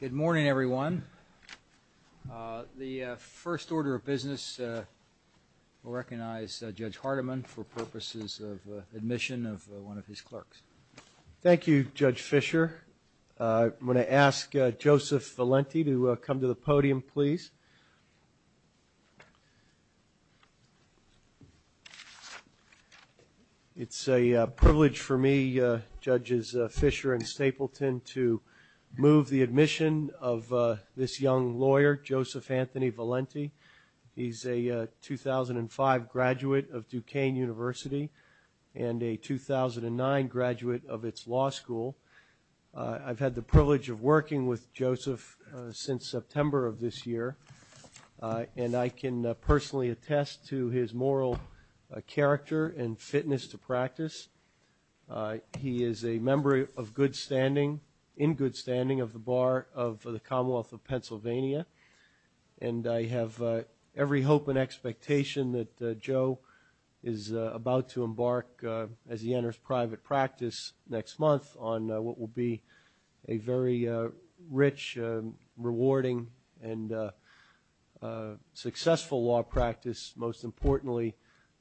Good morning everyone. The first order of business will recognize Judge Hardiman for purposes of admission of one of his clerks. Thank You Judge Fischer. I'm going to ask Joseph Valenti to come to the podium please. It's a privilege for me, Judges Fischer and Stapleton, to move the admission of this young lawyer, Joseph Anthony Valenti. He's a 2005 graduate of Duquesne University and a 2009 graduate of its law school. I've had the privilege of working with Joseph since September of this year, and I can personally attest to his moral character and fitness to practice. He is a member of good standing, in good standing, of the Bar of the Commonwealth of Pennsylvania, and I have every hope and expectation that Joe is about to embark as he enters private practice next month on what will be a very rich, rewarding and successful law practice. Most importantly,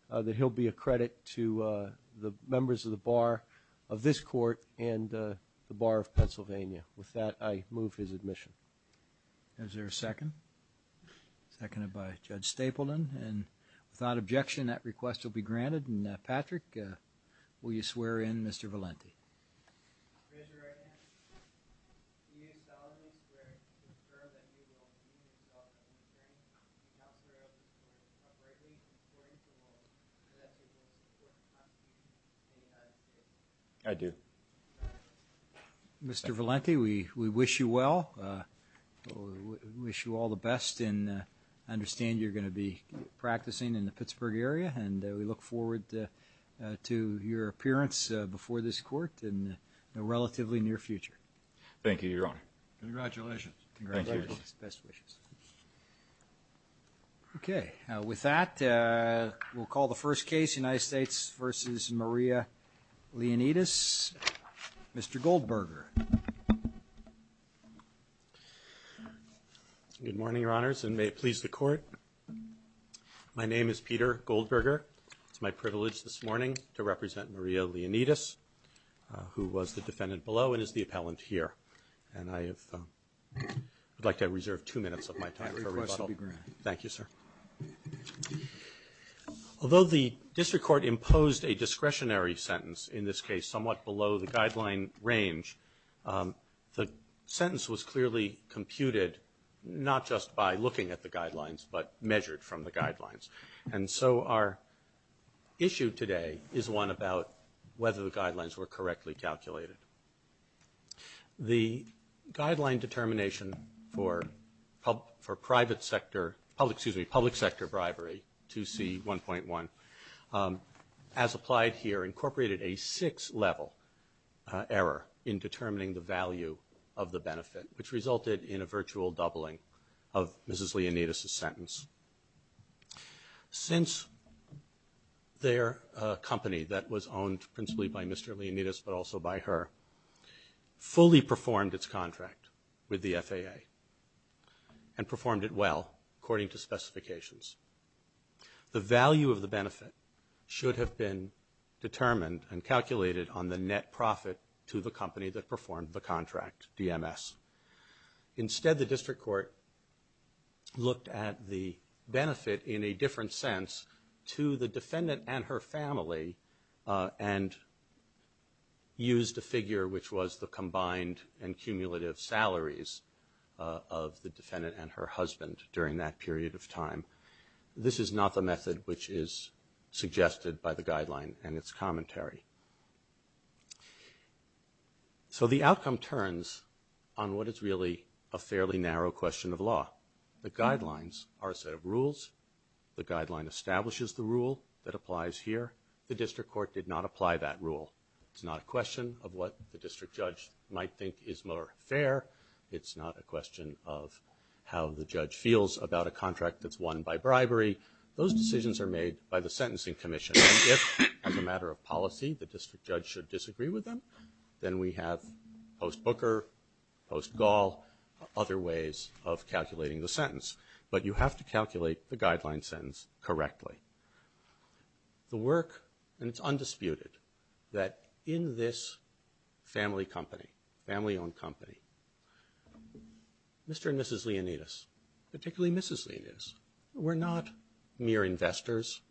that he'll be a credit to the members of the Bar of this court and the Bar of Pennsylvania. With that, I move his admission. Is there a second? Seconded by Judge Stapleton, and without objection that request will be Will you swear in, Mr. Valenti? I do. Mr. Valenti, we wish you well. We wish you all the best and understand you're going to be practicing in the Pittsburgh area, and we look forward to your appearance before this court in the relatively near future. Thank you, Your Honor. Congratulations. Congratulations. Thank you. Best wishes. Okay. With that, we'll call the first case, United States v. Maria Leonidas. Mr. Goldberger. Good morning, Your Honors, and may it please the Court. My name is Peter Goldberger. It's my privilege this morning to represent Maria Leonidas, who was the defendant below and is the appellant here, and I would like to reserve two minutes of my time for rebuttal. Thank you, sir. Although the district court imposed a discretionary sentence in this case somewhat below the guideline range, the sentence was clearly computed not just by looking at the guidelines, but measured from the guidelines, and so our issue today is one about whether the guidelines were correctly calculated. The guideline determination for private sector – excuse me, public sector bribery, 2C1.1, as applied here, incorporated a six-level error in determining the value of the benefit, which resulted in a virtual doubling of Mrs. Leonidas' sentence. Since their company that was owned principally by Mr. Leonidas, but also by her, fully performed its contract with the FAA and performed it well according to specifications, the value of the benefit should have been determined and calculated on the net profit to the company that performed the contract, DMS. Instead, the district court looked at the benefit in a different sense to the defendant and her family and used a figure which was the combined and cumulative salaries of the This is not the method which is suggested by the guideline and its commentary. So the outcome turns on what is really a fairly narrow question of law. The guidelines are a set of rules. The guideline establishes the rule that applies here. The district court did not apply that rule. It's not a question of what the district judge might think is more fair. It's not a question of how the judge feels about a contract that's won by bribery. Those decisions are made by the Sentencing Commission. And if, as a matter of policy, the district judge should disagree with them, then we have post-Booker, post-Gaul, other ways of calculating the sentence. But you have to calculate the guideline sentence correctly. The work, and it's undisputed, that in this family company, family-owned company, Mr. and Mrs. Leonidas, particularly Mrs. Leonidas, were not mere investors.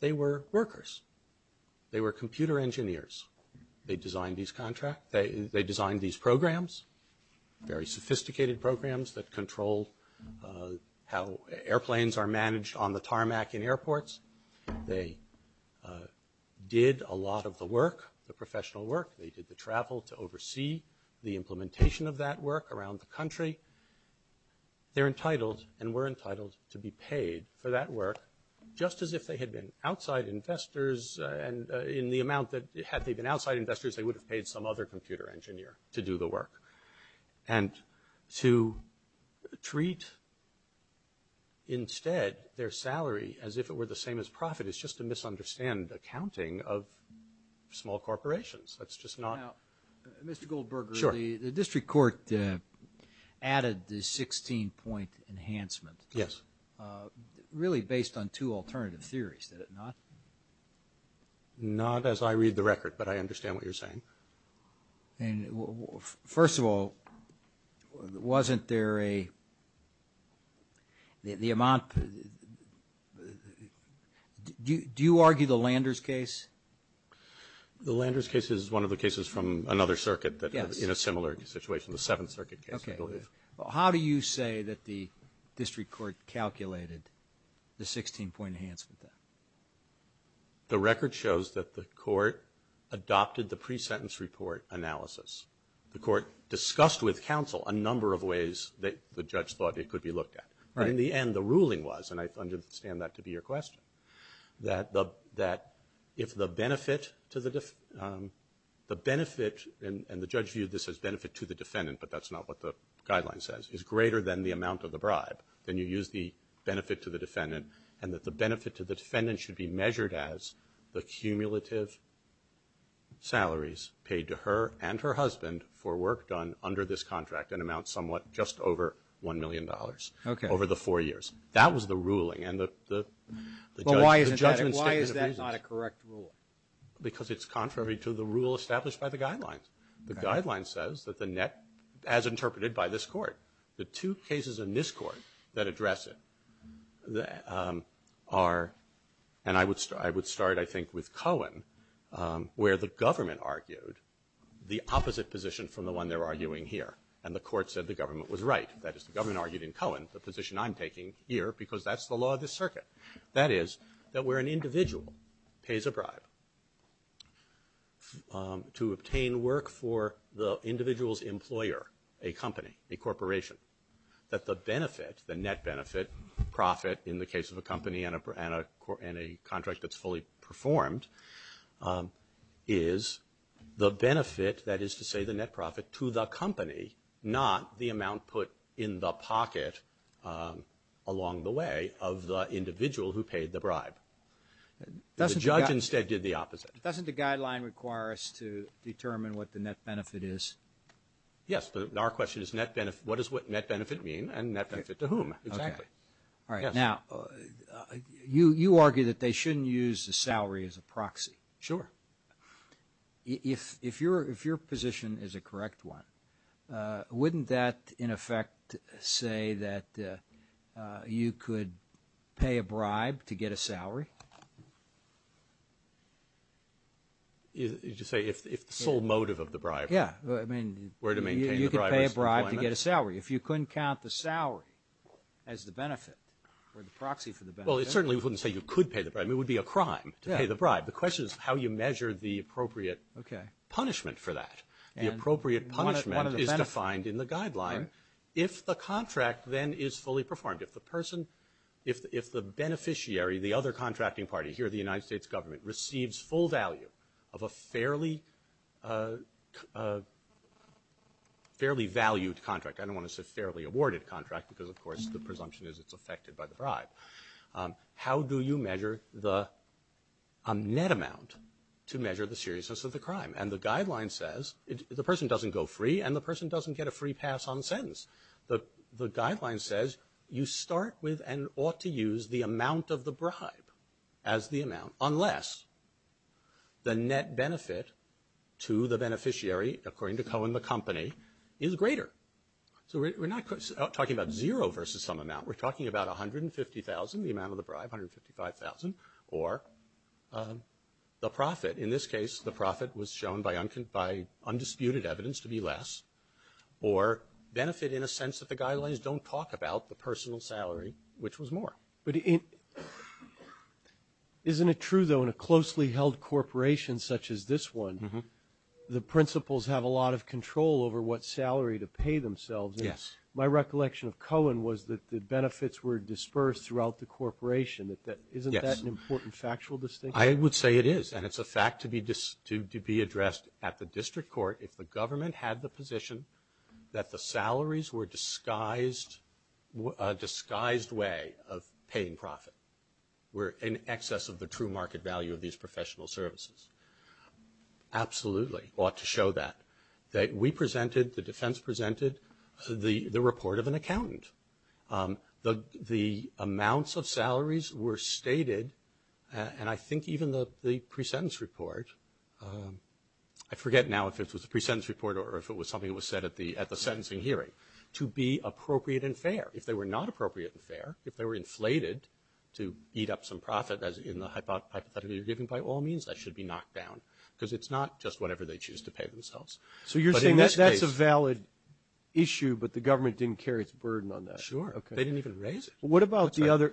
They were workers. They were computer engineers. They designed these programs, very sophisticated programs that control how airplanes are managed on the tarmac in airports. They did a lot of the work, the professional work. They did the travel to oversee the implementation of that work around the country. They're entitled and were entitled to be paid for that work, just as if they had been outside investors and in the amount that, had they been outside investors, they would have paid some other computer engineer to do the work. And to treat, instead, their salary as if it were the same as profit is just to misunderstand accounting of small corporations. That's just not. Now, Mr. Goldberger. Sure. The district court added the 16-point enhancement. Yes. Really based on two alternative theories, did it not? Not as I read the record, but I understand what you're saying. First of all, wasn't there a, the amount, do you argue the Landers case? The Landers case is one of the cases from another circuit in a similar situation, the Seventh Circuit case, I believe. Okay. How do you say that the district court calculated the 16-point enhancement? The record shows that the court adopted the pre-sentence report analysis. The court discussed with counsel a number of ways that the judge thought it could be looked at. Right. But in the end, the ruling was, and I understand that to be your question, that if the benefit to the, the benefit, and the judge viewed this as benefit to the defendant, but that's not what the guideline says, is greater than the amount of the bribe, then you use the benefit to the defendant, and that the benefit to the defendant should be measured as the cumulative salaries paid to her and her husband for work done under this contract, an amount somewhat just over $1 million. Okay. Over the four years. That was the ruling, and the judge, the judgment statement of reasons. But why is that not a correct rule? Because it's contrary to the rule established by the guidelines. The guideline says that the net, as interpreted by this court, the two cases in this court that address it are, and I would start, I think, with Cohen, where the government argued the opposite position from the one they're arguing here. And the court said the government was right. That is, the government argued in Cohen the position I'm taking here, because that's the law of the circuit. That is, that where an individual pays a bribe to obtain work for the individual's employer, a company, a corporation, that the benefit, the net benefit, profit, in the case of a company and a contract that's fully performed, is the benefit, that is to say the net profit, to the company, not the amount put in the pocket along the way of the individual who paid the bribe. The judge instead did the opposite. Doesn't the guideline require us to determine what the net benefit is? Yes. Our question is what does net benefit mean and net benefit to whom? Exactly. All right. Now, you argue that they shouldn't use the salary as a proxy. Sure. If your position is a correct one, wouldn't that, in effect, say that you could pay a bribe to get a salary? Did you say if the sole motive of the bribe were to maintain the briber's employment? You could pay a bribe to get a salary. If you couldn't count the salary as the benefit or the proxy for the benefit. Well, it certainly wouldn't say you could pay the bribe. It would be a crime to pay the bribe. The question is how you measure the appropriate punishment for that. The appropriate punishment is defined in the guideline. All right. If the contract then is fully performed, if the person, if the beneficiary, the other contracting party, here the United States government, receives full value of a fairly valued contract, I don't want to say fairly awarded contract because, of course, the presumption is it's affected by the bribe, how do you measure the net amount to measure the seriousness of the crime? And the guideline says the person doesn't go free and the person doesn't get a free pass on the sentence. The guideline says you start with and ought to use the amount of the bribe as the amount unless the net benefit to the beneficiary, according to Cohen, the company, is greater. So we're not talking about zero versus some amount. We're talking about $150,000, the amount of the bribe, $155,000, or the profit. In this case, the profit was shown by undisputed evidence to be less or benefit in a sense that the guidelines don't talk about the personal salary, which was more. Isn't it true, though, in a closely held corporation such as this one, the principals have a lot of control over what salary to pay themselves? Yes. My recollection of Cohen was that the benefits were dispersed throughout the corporation. Isn't that an important factual distinction? I would say it is, and it's a fact to be addressed at the district court. If the government had the position that the salaries were a disguised way of paying profit, were in excess of the true market value of these professional services, absolutely ought to show that. We presented, the defense presented the report of an accountant. The amounts of salaries were stated, and I think even the pre-sentence report, I forget now if it was a pre-sentence report or if it was something that was said at the sentencing hearing, to be appropriate and fair. If they were not appropriate and fair, if they were inflated to eat up some profit, as in the hypothetical you're giving by all means, that should be knocked down because it's not just whatever they choose to pay themselves. So you're saying that's a valid issue, but the government didn't carry its burden on that? Sure. They didn't even raise it. What about the other?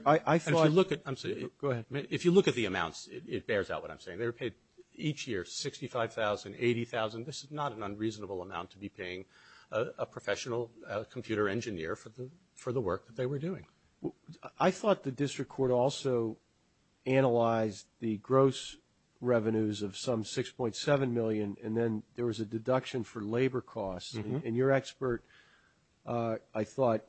If you look at the amounts, it bears out what I'm saying. They were paid each year $65,000, $80,000. This is not an unreasonable amount to be paying a professional computer engineer for the work that they were doing. I thought the district court also analyzed the gross revenues of some $6.7 million, and then there was a deduction for labor costs. And your expert, I thought,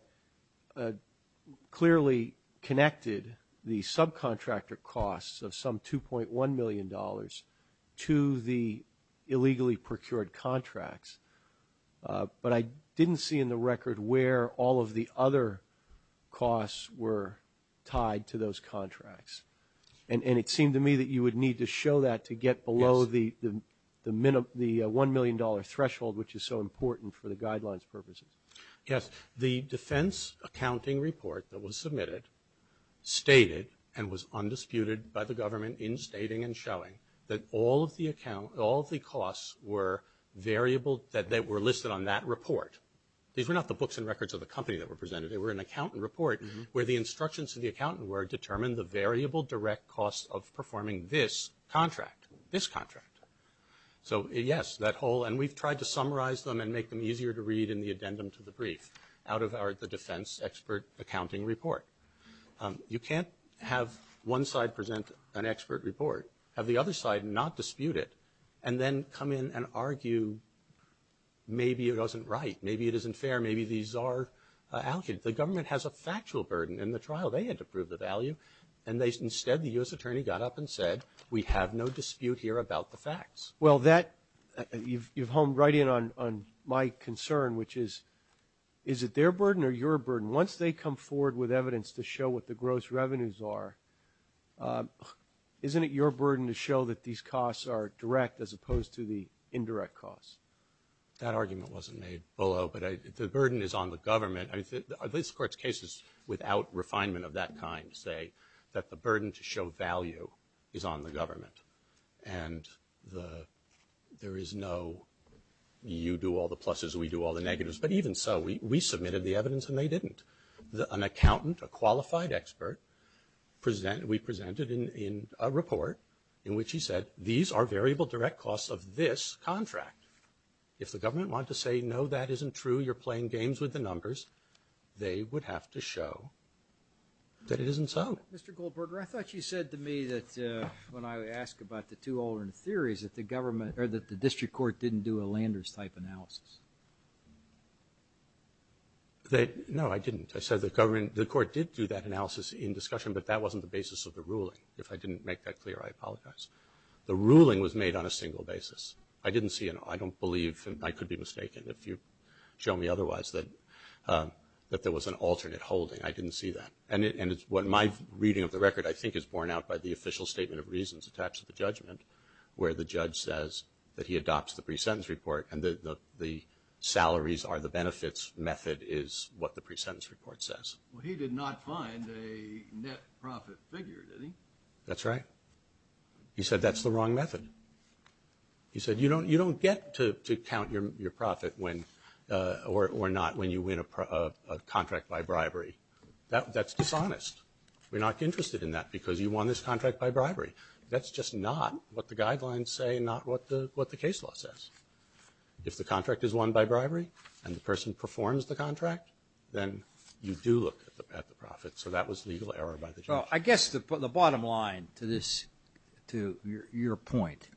clearly connected the subcontractor costs of some $2.1 million to the illegally procured contracts. But I didn't see in the record where all of the other costs were tied to those contracts. And it seemed to me that you would need to show that to get below the $1 million threshold, which is so important for the guidelines purposes. Yes. The defense accounting report that was submitted stated, and was undisputed by the government in stating and showing, that all of the costs were variable, that they were listed on that report. These were not the books and records of the company that were presented. They were an accountant report where the instructions to the accountant were determine the variable direct costs of performing this contract, this contract. So, yes, that whole, and we've tried to summarize them and make them easier to read in the addendum to the brief, out of the defense expert accounting report. You can't have one side present an expert report, have the other side not dispute it, and then come in and argue maybe it wasn't right, maybe it isn't fair, maybe these are allocated. The government has a factual burden in the trial. They had to prove the value. And instead, the U.S. attorney got up and said, we have no dispute here about the facts. Well, that, you've honed right in on my concern, which is, is it their burden or your burden? Once they come forward with evidence to show what the gross revenues are, isn't it your burden to show that these costs are direct, as opposed to the indirect costs? That argument wasn't made below, but the burden is on the government. I mean, at least the Court's cases without refinement of that kind say that the burden to show value is on the government. And there is no, you do all the pluses, we do all the negatives. But even so, we submitted the evidence and they didn't. An accountant, a qualified expert, we presented in a report in which he said, these are variable direct costs of this contract. If the government wanted to say, no, that isn't true, you're playing games with the numbers, they would have to show that it isn't so. Mr. Goldberger, I thought you said to me that, when I asked about the two alternate theories, that the government, or that the district court didn't do a Landers-type analysis. No, I didn't. I said the government, the court did do that analysis in discussion, but that wasn't the basis of the ruling. If I didn't make that clear, I apologize. The ruling was made on a single basis. I didn't see, and I don't believe, and I could be mistaken if you show me otherwise, that there was an alternate holding. I didn't see that. And what my reading of the record, I think, is borne out by the official statement of reasons attached to the judgment, where the judge says that he adopts the pre-sentence report and the salaries are the benefits method is what the pre-sentence report says. Well, he did not find a net profit figure, did he? That's right. He said that's the wrong method. He said you don't get to count your profit when, or not, when you win a contract by bribery. That's dishonest. We're not interested in that because you won this contract by bribery. That's just not what the guidelines say, not what the case law says. If the contract is won by bribery and the person performs the contract, then you do look at the profit. So that was legal error by the judge. Well, I guess the bottom line to your point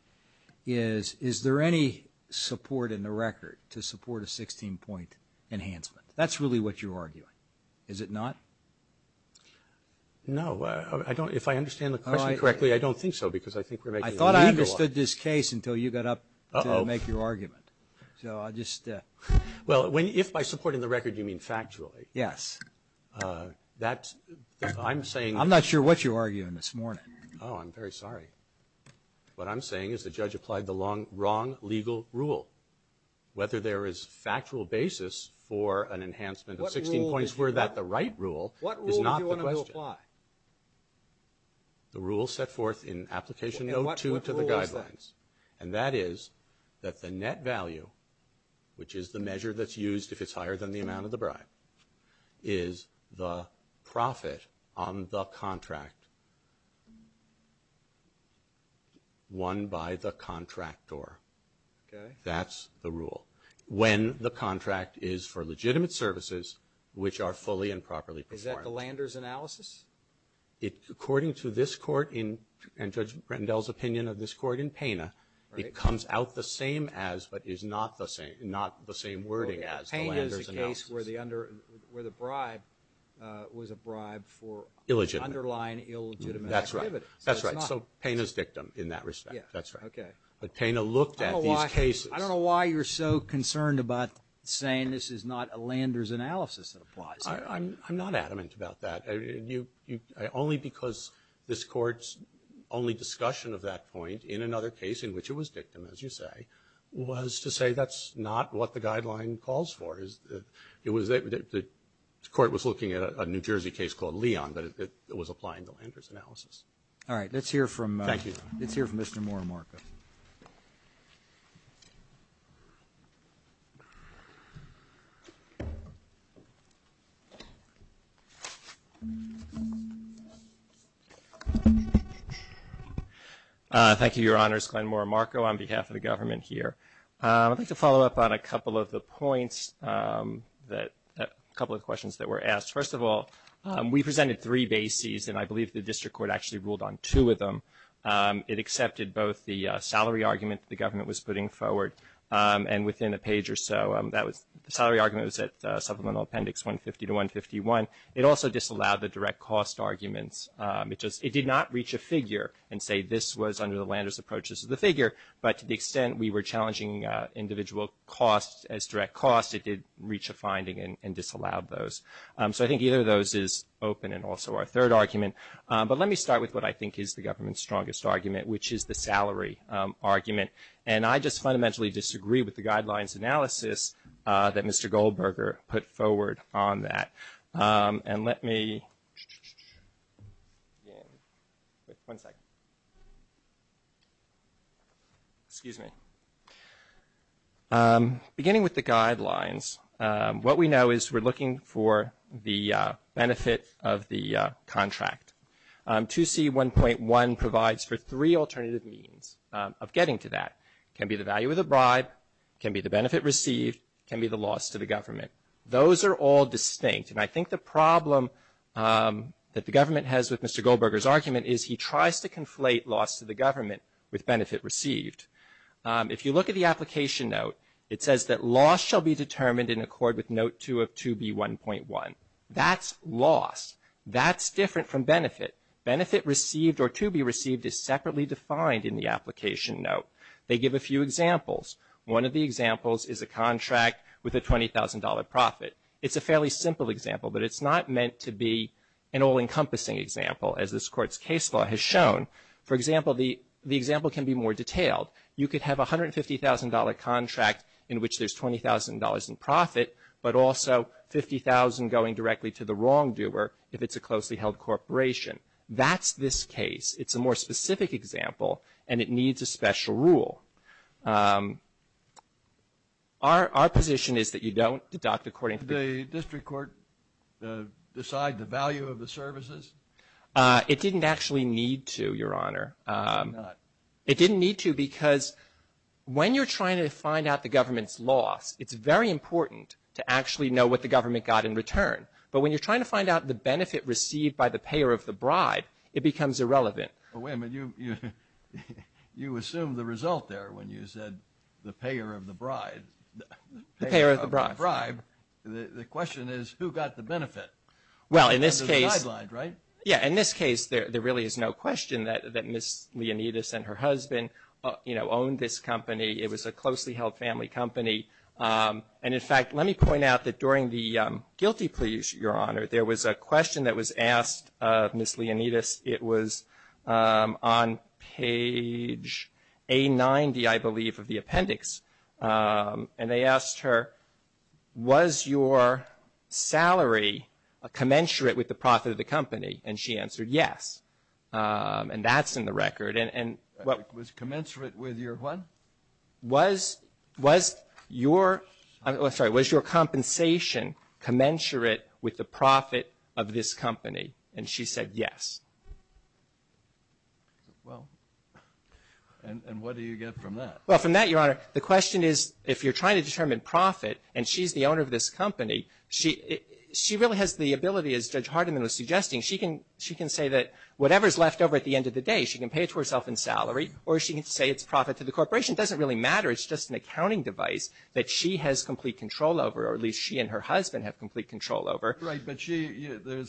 is, is there any support in the record to support a 16-point enhancement? That's really what you're arguing, is it not? No. If I understand the question correctly, I don't think so. I thought I understood this case until you got up to make your argument. Well, if by supporting the record you mean factually. Yes. I'm not sure what you're arguing this morning. Oh, I'm very sorry. What I'm saying is the judge applied the wrong legal rule. Whether there is factual basis for an enhancement of 16 points, were that the right rule, is not the question. What rule do you want him to apply? The rule set forth in Application Note 2 to the guidelines, and that is that the net value, which is the measure that's used if it's higher than the amount of the bribe, is the profit on the contract won by the contractor. Okay. That's the rule. When the contract is for legitimate services, which are fully and properly performed. Is that the Lander's analysis? According to this court and Judge Rendell's opinion of this court in Pena, it comes out the same as but is not the same wording as the Lander's analysis. Okay. Pena is the case where the bribe was a bribe for the underlying illegitimate activity. That's right. So it's not. That's right. So Pena's dictum in that respect. That's right. Okay. But Pena looked at these cases. I don't know why you're so concerned about saying this is not a Lander's analysis that applies here. I'm not adamant about that. Only because this Court's only discussion of that point in another case, in which it was dictum, as you say, was to say that's not what the guideline calls for. It was that the Court was looking at a New Jersey case called Leon, but it was applying the Lander's analysis. All right. Let's hear from Mr. Moore. Glenn Moore Marco. Thank you, Your Honors. Glenn Moore Marco on behalf of the government here. I'd like to follow up on a couple of the points, a couple of the questions that were asked. First of all, we presented three bases, and I believe the district court actually ruled on two of them. It accepted both the salary argument the government was putting forward, and within a page or so, the salary argument was at supplemental appendix 150 to 151. It also disallowed the direct cost arguments. It did not reach a figure and say this was under the Lander's approach, this is the figure, but to the extent we were challenging individual costs as direct costs, it did reach a finding and disallowed those. So I think either of those is open and also our third argument. But let me start with what I think is the government's strongest argument, which is the salary argument. And I just fundamentally disagree with the guidelines analysis that Mr. Goldberger put forward on that. And let me, one second. Excuse me. Beginning with the guidelines, what we know is we're looking for the benefit of the contract. 2C1.1 provides for three alternative means of getting to that. It can be the value of the bribe, it can be the benefit received, it can be the loss to the government. Those are all distinct, and I think the problem that the government has with Mr. Goldberger's argument is he tries to conflate loss to the government with benefit received. If you look at the application note, it says that loss shall be determined in accord with Note 2 of 2B1.1. That's loss. That's different from benefit. Benefit received or to be received is separately defined in the application note. They give a few examples. One of the examples is a contract with a $20,000 profit. It's a fairly simple example, but it's not meant to be an all-encompassing example, as this Court's case law has shown. For example, the example can be more detailed. You could have a $150,000 contract in which there's $20,000 in profit, but also $50,000 going directly to the wrongdoer if it's a closely held corporation. That's this case. It's a more specific example, and it needs a special rule. Our position is that you don't deduct according to the ---- The district court decides the value of the services? It didn't actually need to, Your Honor. It did not. Because when you're trying to find out the government's loss, it's very important to actually know what the government got in return. But when you're trying to find out the benefit received by the payer of the bribe, it becomes irrelevant. Well, wait a minute. You assumed the result there when you said the payer of the bribe. The payer of the bribe. The question is who got the benefit? Well, in this case ---- Under the guidelines, right? Yeah. In this case, there really is no question that Ms. Leonidas and her husband owned this company. It was a closely held family company. And, in fact, let me point out that during the guilty pleas, Your Honor, there was a question that was asked of Ms. Leonidas. It was on page A90, I believe, of the appendix. And they asked her, was your salary commensurate with the profit of the company? And she answered yes. And that's in the record. Was commensurate with your what? Was your compensation commensurate with the profit of this company? And she said yes. Well, and what do you get from that? Well, from that, Your Honor, the question is if you're trying to determine profit, and she's the owner of this company, she really has the ability, as Judge Hardiman was suggesting, she can say that whatever is left over at the end of the day, she can pay it to herself in salary, or she can say it's profit to the corporation. It doesn't really matter. It's just an accounting device that she has complete control over, or at least she and her husband have complete control over. Right. But the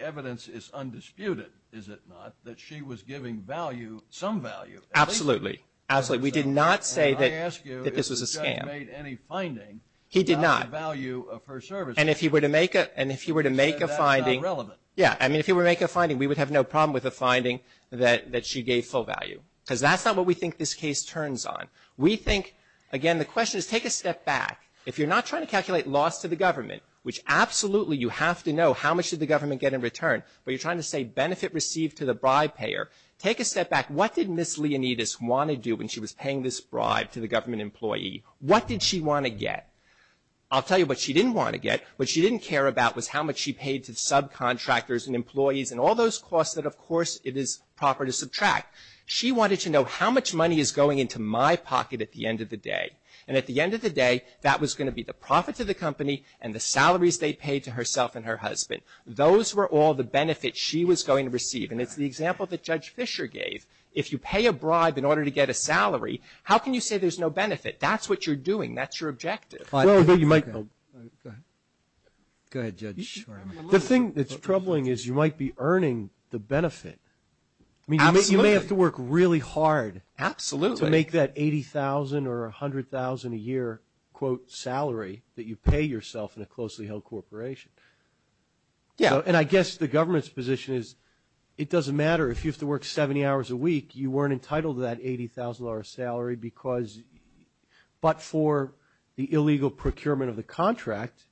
evidence is undisputed, is it not, that she was giving value, some value. Absolutely. Absolutely. We did not say that this was a scam. And I ask you if the judge made any finding about the value of her service. And if he were to make a finding. She said that's not relevant. Yeah. I mean, if he were to make a finding, we would have no problem with a finding that she gave full value, because that's not what we think this case turns on. We think, again, the question is take a step back. If you're not trying to calculate loss to the government, which absolutely you have to know how much did the government get in return, but you're trying to say benefit received to the bribe payer, take a step back. What did Ms. Leonidas want to do when she was paying this bribe to the government employee? What did she want to get? I'll tell you what she didn't want to get. What she didn't care about was how much she paid to subcontractors and employees and all those costs that, of course, it is proper to subtract. She wanted to know how much money is going into my pocket at the end of the day. And at the end of the day, that was going to be the profit to the company Those were all the benefits she was going to receive. And it's the example that Judge Fischer gave. If you pay a bribe in order to get a salary, how can you say there's no benefit? That's what you're doing. That's your objective. Go ahead, Judge. The thing that's troubling is you might be earning the benefit. You may have to work really hard to make that 80,000 or 100,000 a year quote salary that you pay yourself in a closely held corporation. Yeah. And I guess the government's position is it doesn't matter if you have to work 70 hours a week, you weren't entitled to that 80,000 dollar salary because, but for the illegal procurement of the contract,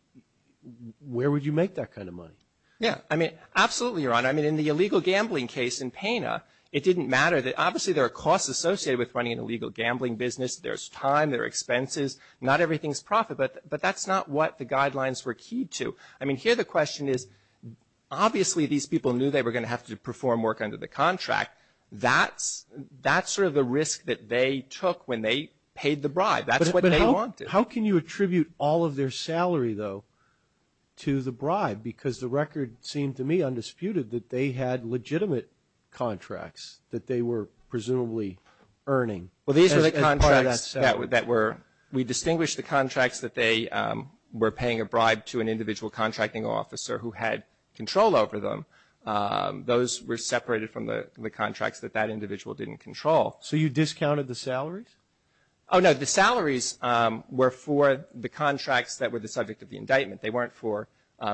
where would you make that kind of money? Yeah. I mean, absolutely, Your Honor. I mean, in the illegal gambling case in Pana, it didn't matter that obviously there are costs associated with running an illegal gambling business. There's time, there are expenses, not everything's profit, but that's not what the guidelines were key to. I mean, here the question is obviously these people knew they were going to have to perform work under the contract. That's sort of the risk that they took when they paid the bribe. That's what they wanted. But how can you attribute all of their salary, though, to the bribe? Because the record seemed to me undisputed that they had legitimate contracts that they were presumably earning. Well, these are the contracts that were, we distinguished the contracts that they were paying a bribe to an individual contracting officer who had control over them. Those were separated from the contracts that that individual didn't control. So you discounted the salaries? Oh, no. The salaries were for the contracts that were the subject of the indictment. They weren't for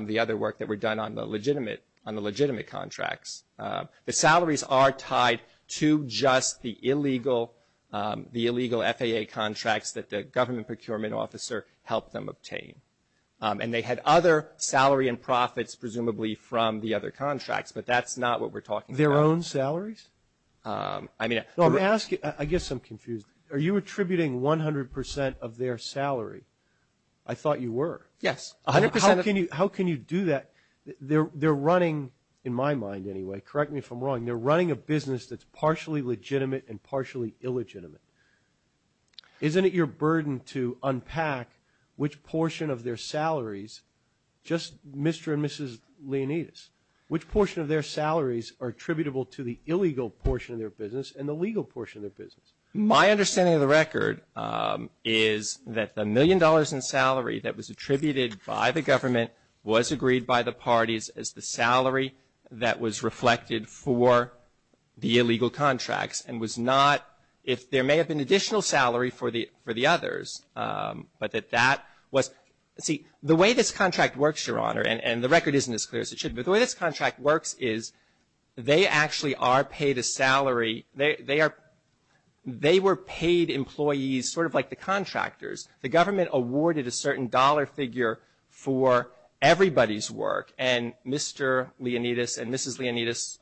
the other work that were done on the legitimate contracts. The salaries are tied to just the illegal FAA contracts that the government procurement officer helped them obtain. And they had other salary and profits presumably from the other contracts, but that's not what we're talking about. Their own salaries? I mean, I'm asking, I guess I'm confused. Are you attributing 100 percent of their salary? I thought you were. Yes. How can you do that? They're running, in my mind anyway, correct me if I'm wrong, they're running a business that's partially legitimate and partially illegitimate. Isn't it your burden to unpack which portion of their salaries, just Mr. and Mrs. Leonidas, which portion of their salaries are attributable to the illegal portion of their business and the legal portion of their business? My understanding of the record is that the million dollars in salary that was attributed by the government was agreed by the parties as the salary that was attributable to the illegal portion of their business. They have an additional salary for the others. But that that was, see, the way this contract works, Your Honor, and the record isn't as clear as it should be, but the way this contract works is they actually are paid a salary, they were paid employees sort of like the contractors. The government awarded a certain dollar figure for everybody's work. And Mr. Leonidas and Mrs. Leonidas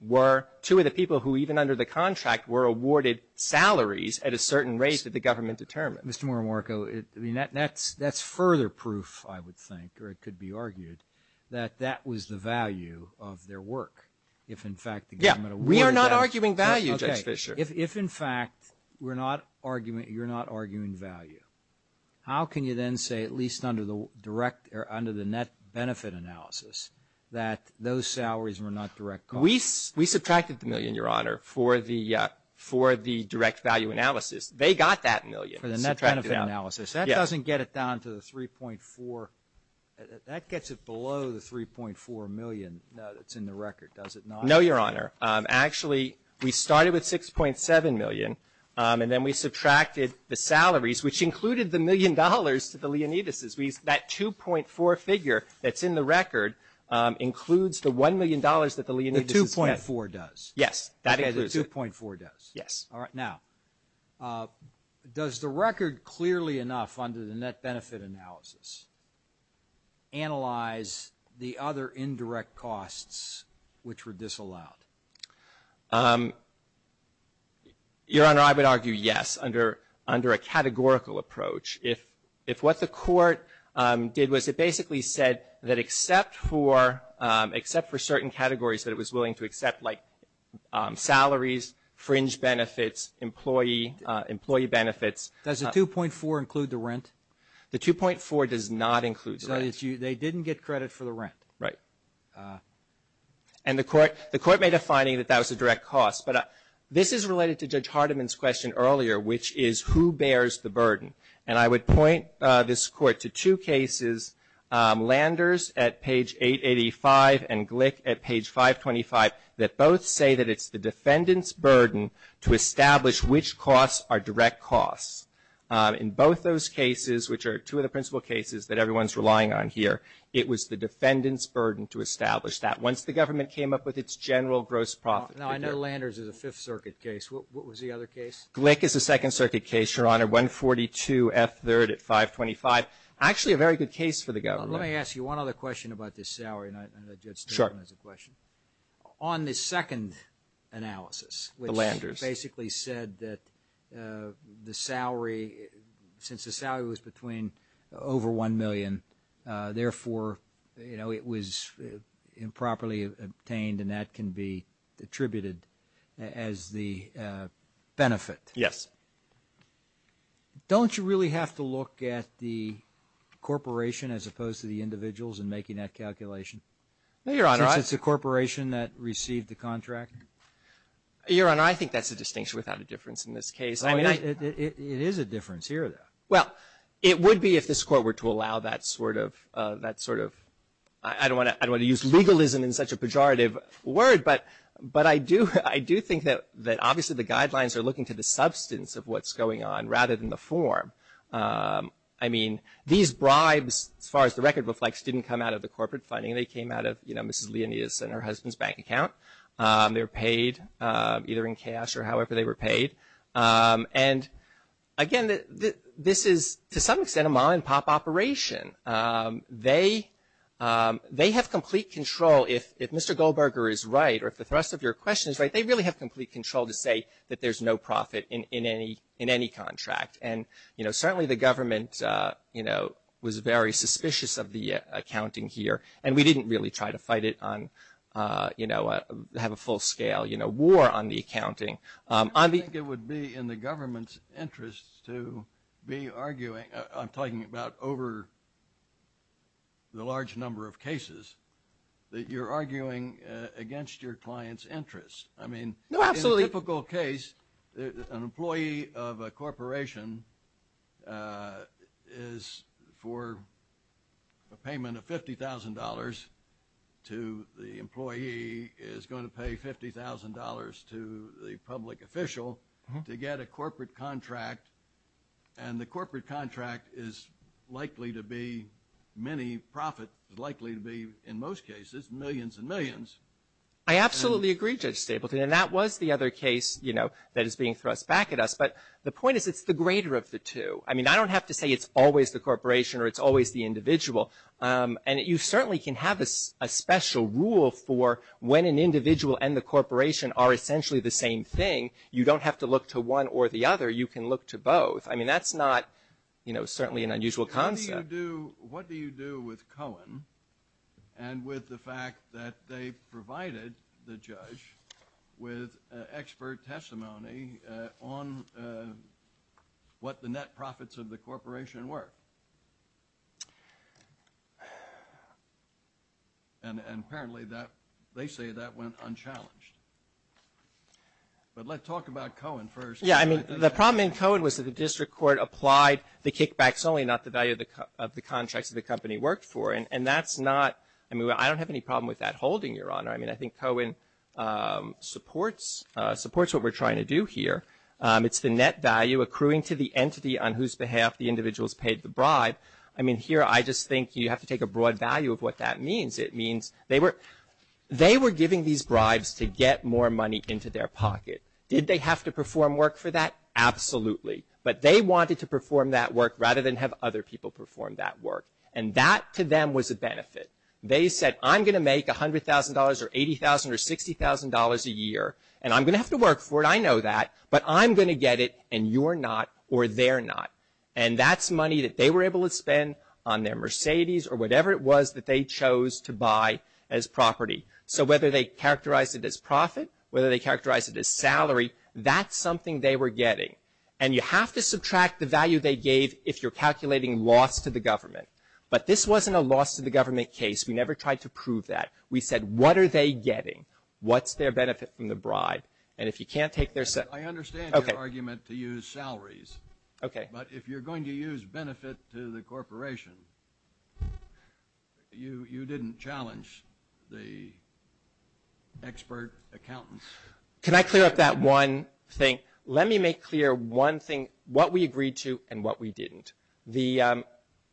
were two of the people who even under the salaries at a certain rate that the government determined. Mr. Morimarco, that's further proof, I would think, or it could be argued that that was the value of their work. If, in fact, the government awarded that. We are not arguing value, Judge Fischer. If, in fact, you're not arguing value, how can you then say, at least under the net benefit analysis, that those salaries were not direct costs? We subtracted the million, Your Honor, for the direct value analysis. They got that million. For the net benefit analysis. Yeah. That doesn't get it down to the 3.4. That gets it below the 3.4 million that's in the record, does it not? No, Your Honor. Actually, we started with 6.7 million, and then we subtracted the salaries which included the million dollars to the Leonidases. That 2.4 figure that's in the record includes the $1 million that the Leonidases get. 2.4 does. Yes. That includes it. 2.4 does. Yes. All right. Now, does the record clearly enough under the net benefit analysis analyze the other indirect costs which were disallowed? Your Honor, I would argue yes under a categorical approach. If what the court did was it basically said that except for certain categories that it was willing to accept, like salaries, fringe benefits, employee benefits. Does the 2.4 include the rent? The 2.4 does not include the rent. They didn't get credit for the rent. Right. And the court made a finding that that was a direct cost. But this is related to Judge Hardiman's question earlier, which is who bears the burden. And I would point this Court to two cases, Landers at page 885 and Glick at page 525, that both say that it's the defendant's burden to establish which costs are direct costs. In both those cases, which are two of the principal cases that everyone is relying on here, it was the defendant's burden to establish that once the government came up with its general gross profit figure. Now, I know Landers is a Fifth Circuit case. What was the other case? Glick is a Second Circuit case, Your Honor, 142F3rd at 525. Actually a very good case for the government. Let me ask you one other question about this salary. Sure. On the second analysis, which basically said that the salary, since the salary was between over $1 million, therefore, you know, it was improperly obtained and that can be attributed as the benefit. Yes. Don't you really have to look at the corporation as opposed to the individuals in making that calculation? No, Your Honor. Since it's the corporation that received the contract? Your Honor, I think that's a distinction without a difference in this case. It is a difference here, though. Well, it would be if this Court were to allow that sort of, I don't want to use legalism in such a pejorative word, but I do think that obviously the guidelines are looking to the substance of what's going on rather than the form. I mean, these bribes, as far as the record reflects, didn't come out of the bank. They came out of, you know, Mrs. Leonidas and her husband's bank account. They were paid either in cash or however they were paid. And, again, this is, to some extent, a mom-and-pop operation. They have complete control. If Mr. Goldberger is right or if the rest of your question is right, they really have complete control to say that there's no profit in any contract. And, you know, certainly the government, you know, was very suspicious of the accounting here. And we didn't really try to fight it on, you know, have a full-scale, you know, war on the accounting. I think it would be in the government's interest to be arguing, I'm talking about over the large number of cases, that you're arguing against your client's interests. I mean, in a typical case, an employee of a corporation is for a payment of $50,000 to the employee is going to pay $50,000 to the public official to get a corporate contract. And the corporate contract is likely to be many profit, likely to be in most cases millions and millions. I absolutely agree, Judge Stapleton, and that was the other case, you know, that is being thrust back at us. But the point is it's the greater of the two. I mean, I don't have to say it's always the corporation or it's always the individual. And you certainly can have a special rule for when an individual and the corporation are essentially the same thing. You don't have to look to one or the other. You can look to both. I mean, that's not, you know, certainly an unusual concept. What do you do with Cohen and with the fact that they provided the judge with expert testimony on what the net profits of the corporation were? And apparently they say that went unchallenged. But let's talk about Cohen first. Yeah, I mean, the problem in Cohen was that the district court applied the kickbacks only, not the value of the contracts that the company worked for. And that's not, I mean, I don't have any problem with that holding, Your Honor. I mean, I think Cohen supports what we're trying to do here. It's the net value accruing to the entity on whose behalf the individuals paid the bribe. I mean, here I just think you have to take a broad value of what that means. It means they were giving these bribes to get more money into their pocket. Did they have to perform work for that? Absolutely. But they wanted to perform that work rather than have other people perform that work. And that to them was a benefit. They said, I'm going to make $100,000 or $80,000 or $60,000 a year, and I'm going to have to work for it, I know that, but I'm going to get it and you're not or they're not. And that's money that they were able to spend on their Mercedes or whatever it was that they chose to buy as property. So whether they characterized it as profit, whether they characterized it as salary, that's something they were getting. And you have to subtract the value they gave if you're calculating loss to the government. But this wasn't a loss to the government case. We never tried to prove that. We said, what are they getting? What's their benefit from the bribe? And if you can't take their salary. I understand your argument to use salaries. Okay. But if you're going to use benefit to the corporation, you didn't challenge the expert accountants. Can I clear up that one thing? Let me make clear one thing, what we agreed to and what we didn't.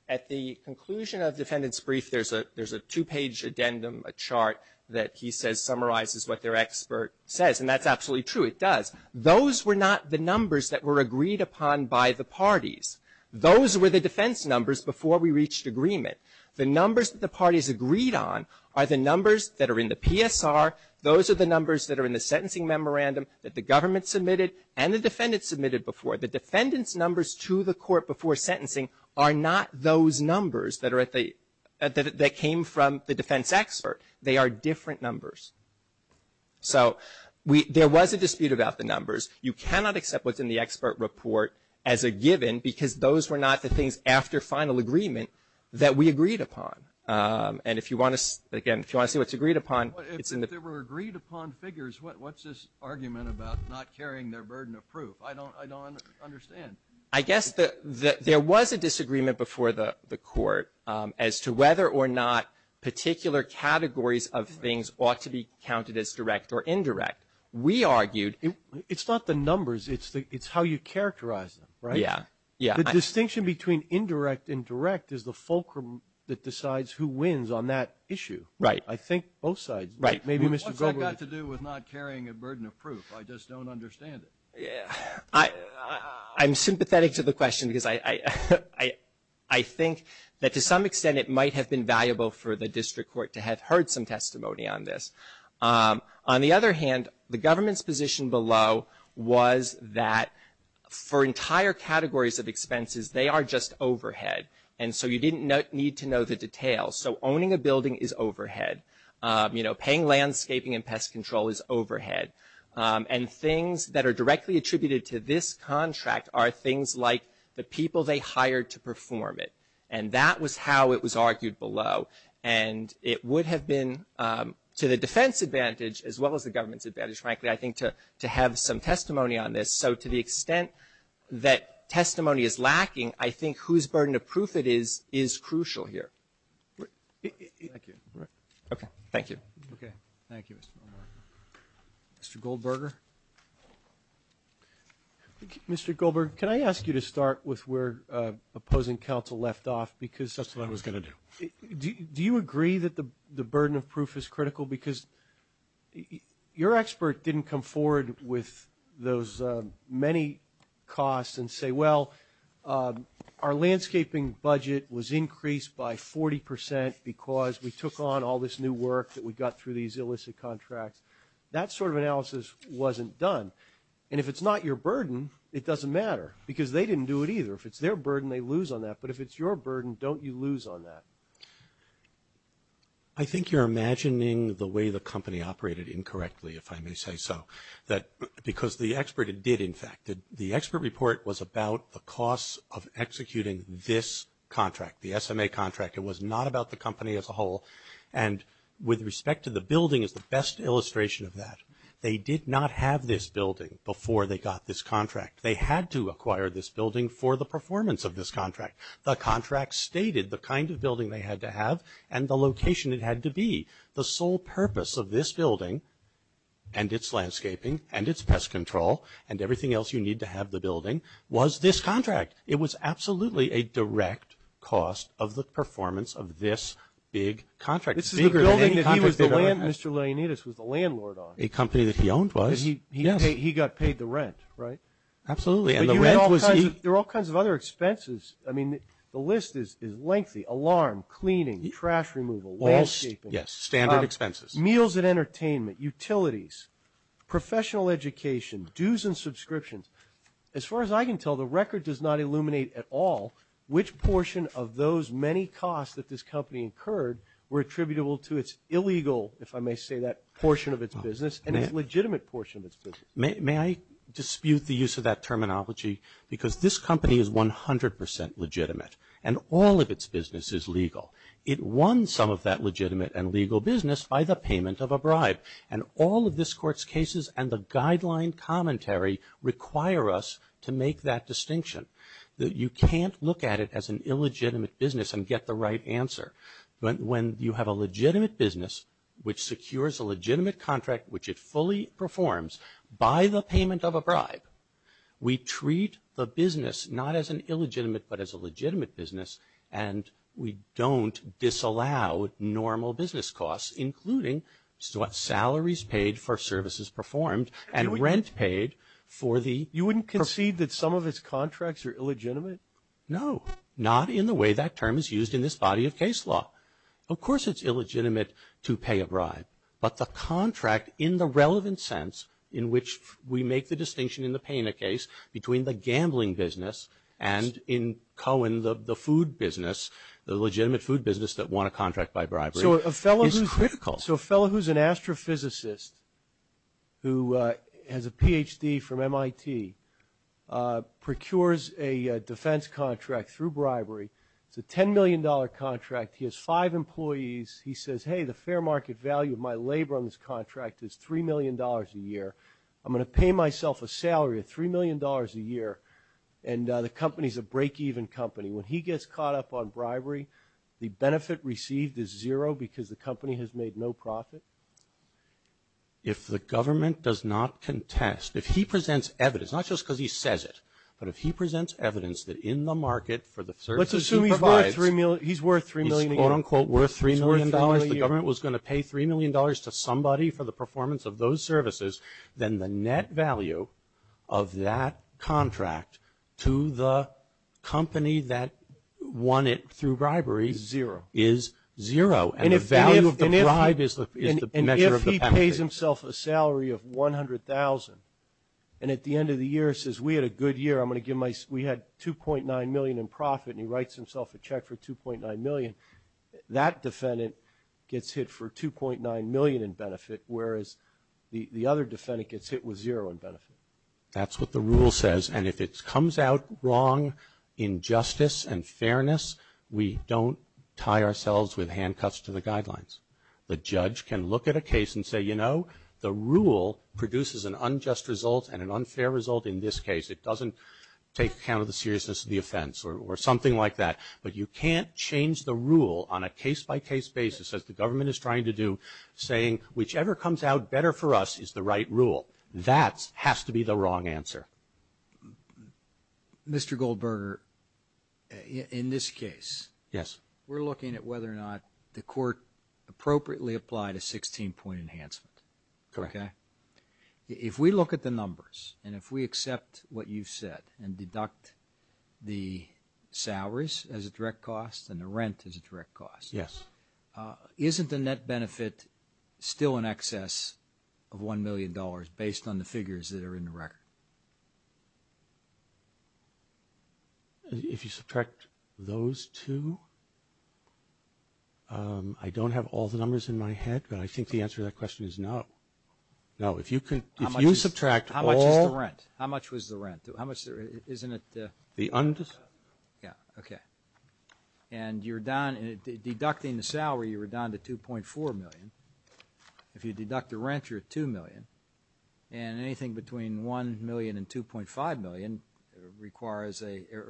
At the conclusion of defendant's brief, there's a two-page addendum, a chart that he says summarizes what their expert says. And that's absolutely true. It does. Those were not the numbers that were agreed upon by the parties. Those were the defense numbers before we reached agreement. The numbers that the parties agreed on are the numbers that are in the PSR. Those are the numbers that are in the sentencing memorandum that the government submitted and the defendant submitted before. The defendant's numbers to the court before sentencing are not those numbers that are at the, that came from the defense expert. They are different numbers. So there was a dispute about the numbers. You cannot accept what's in the expert report as a given because those were not the things after final agreement that we agreed upon. And if you want to, again, if you want to see what's agreed upon, it's in the. But if they were agreed upon figures, what's this argument about not carrying their burden of proof? I don't, I don't understand. I guess the, there was a disagreement before the court as to whether or not particular categories of things ought to be counted as direct or indirect. We argued. It's not the numbers. It's the, it's how you characterize them. Right? Yeah. Yeah. The distinction between indirect and direct is the fulcrum that decides who wins on that issue. Right. I think both sides. Right. Maybe Mr. Goldberg. What's that got to do with not carrying a burden of proof? I just don't understand it. I'm sympathetic to the question because I think that to some extent it might have been valuable for the district court to have heard some testimony on this. On the other hand, the government's position below was that for entire categories of expenses, they are just overhead. And so you didn't need to know the details. So owning a building is overhead. You know, paying landscaping and pest control is overhead. And things that are directly attributed to this contract are things like the people they hired to perform it. And that was how it was argued below. And it would have been to the defense advantage as well as the government's advantage, frankly, I think, to have some testimony on this. So to the extent that testimony is lacking, I think whose burden of proof it is, is crucial here. Thank you. Okay. Thank you. Okay. Thank you, Mr. Goldberg. Mr. Goldberg? Mr. Goldberg, can I ask you to start with where opposing counsel left off? That's what I was going to do. Do you agree that the burden of proof is critical? Because your expert didn't come forward with those many costs and say, well, our landscaping budget was increased by 40 percent because we took on all this new work that we got through these illicit contracts. That sort of analysis wasn't done. And if it's not your burden, it doesn't matter. Because they didn't do it either. If it's their burden, they lose on that. But if it's your burden, don't you lose on that? I think you're imagining the way the company operated incorrectly, if I may say so. Because the expert did, in fact. The expert report was about the costs of executing this contract, the SMA contract. It was not about the company as a whole. And with respect to the building is the best illustration of that. They did not have this building before they got this contract. They had to acquire this building for the performance of this contract. The contract stated the kind of building they had to have and the location it had to be. The sole purpose of this building and its landscaping and its pest control and everything else you need to have the building was this contract. It was absolutely a direct cost of the performance of this big contract. Mr. Leonidas was the landlord on it. A company that he owned was. He got paid the rent, right? Absolutely. And the rent was. There are all kinds of other expenses. I mean, the list is lengthy. Alarm, cleaning, trash removal, landscaping. Yes, standard expenses. Meals and entertainment, utilities, professional education, dues and subscriptions. As far as I can tell, the record does not illuminate at all which portion of those many costs that this company incurred were attributable to its illegal, if I may say that, portion of its business and its legitimate portion of its business. May I dispute the use of that terminology? Because this company is 100 percent legitimate. And all of its business is legal. It won some of that legitimate and legal business by the payment of a bribe. And all of this Court's cases and the guideline commentary require us to make that distinction. You can't look at it as an illegitimate business and get the right answer. When you have a legitimate business which secures a legitimate contract, which it fully performs by the payment of a bribe, we treat the business not as an illegitimate but as a legitimate business and we don't disallow normal business costs including salaries paid for services performed and rent paid for the- You wouldn't concede that some of its contracts are illegitimate? No. Not in the way that term is used in this body of case law. Of course it's illegitimate to pay a bribe. But the contract in the relevant sense in which we make the distinction in the Pena case between the gambling business and in Cohen the food business, the legitimate food business that won a contract by bribery- So a fellow who's an astrophysicist who has a Ph.D. from MIT procures a defense contract through bribery. It's a $10 million contract. He has five employees. He says, hey, the fair market value of my labor on this contract is $3 million a year. I'm going to pay myself a salary of $3 million a year. And the company's a break-even company. When he gets caught up on bribery, the benefit received is zero because the company has made no profit? If the government does not contest, if he presents evidence, not just because he says it, but if he presents evidence that in the market for the services he provides- Let's assume he's worth $3 million a year. He's, quote, unquote, worth $3 million. The government was going to pay $3 million to somebody for the performance of those services. Then the net value of that contract to the company that won it through bribery is zero. And the value of the bribe is the measure of the benefit. And if he pays himself a salary of $100,000 and at the end of the year says, we had a good year, I'm going to give my-we had $2.9 million in profit, and he writes himself a check for $2.9 million, that defendant gets hit for $2.9 million in benefit, whereas the other defendant gets hit with zero in benefit. That's what the rule says. And if it comes out wrong in justice and fairness, we don't tie ourselves with handcuffs to the guidelines. The judge can look at a case and say, you know, the rule produces an unjust result and an unfair result in this case. It doesn't take account of the seriousness of the offense or something like that. But you can't change the rule on a case-by-case basis, as the government is trying to do, saying, whichever comes out better for us is the right rule. That has to be the wrong answer. Mr. Goldberger, in this case- Yes. We're looking at whether or not the court appropriately applied a 16-point enhancement. Correct. Okay? If we look at the numbers and if we accept what you've said and deduct the salaries as a direct cost and the rent as a direct cost- isn't the net benefit still in excess of $1 million, based on the figures that are in the record? If you subtract those two? I don't have all the numbers in my head, but I think the answer to that question is no. No. If you subtract all- How much is the rent? How much was the rent? Isn't it- The undefined. Yeah. Okay. And deducting the salary, you were down to $2.4 million. If you deduct the rent, you're at $2 million. And anything between $1 million and $2.5 million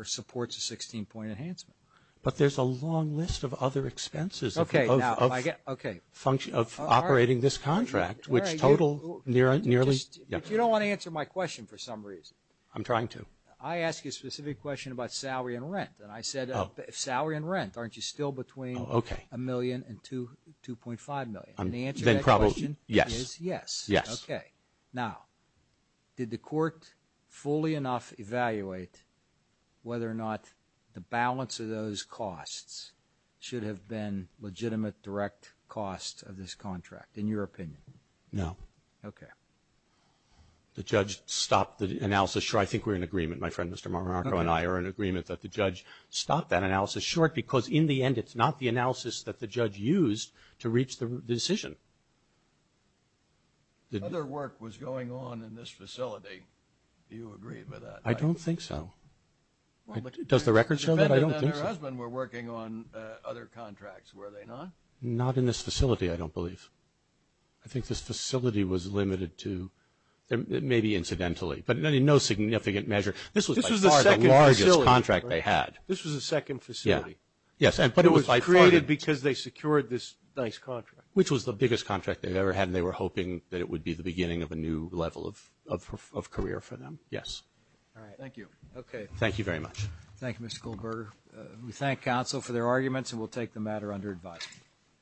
supports a 16-point enhancement. But there's a long list of other expenses of operating this contract, which total nearly- You don't want to answer my question for some reason. I'm trying to. I asked you a specific question about salary and rent. And I said salary and rent. Aren't you still between $1 million and $2.5 million? And the answer to that question is yes. Yes. Okay. Now, did the court fully enough evaluate whether or not the balance of those costs should have been legitimate direct cost of this contract, in your opinion? No. Okay. The judge stopped the analysis. I think we're in agreement. My friend, Mr. Marco, and I are in agreement that the judge stopped that analysis. Sure, because in the end, it's not the analysis that the judge used to reach the decision. Other work was going on in this facility. Do you agree with that? I don't think so. Does the record show that? I don't think so. The defendant and her husband were working on other contracts, were they not? Not in this facility, I don't believe. I think this facility was limited to – maybe incidentally, but in no significant measure. This was by far the largest contract they had. This was the second facility. Yes. It was created because they secured this nice contract. Which was the biggest contract they've ever had, and they were hoping that it would be the beginning of a new level of career for them. Yes. All right. Thank you. Okay. Thank you very much. Thank you, Mr. Goldberger. We thank counsel for their arguments, and we'll take the matter under advisement.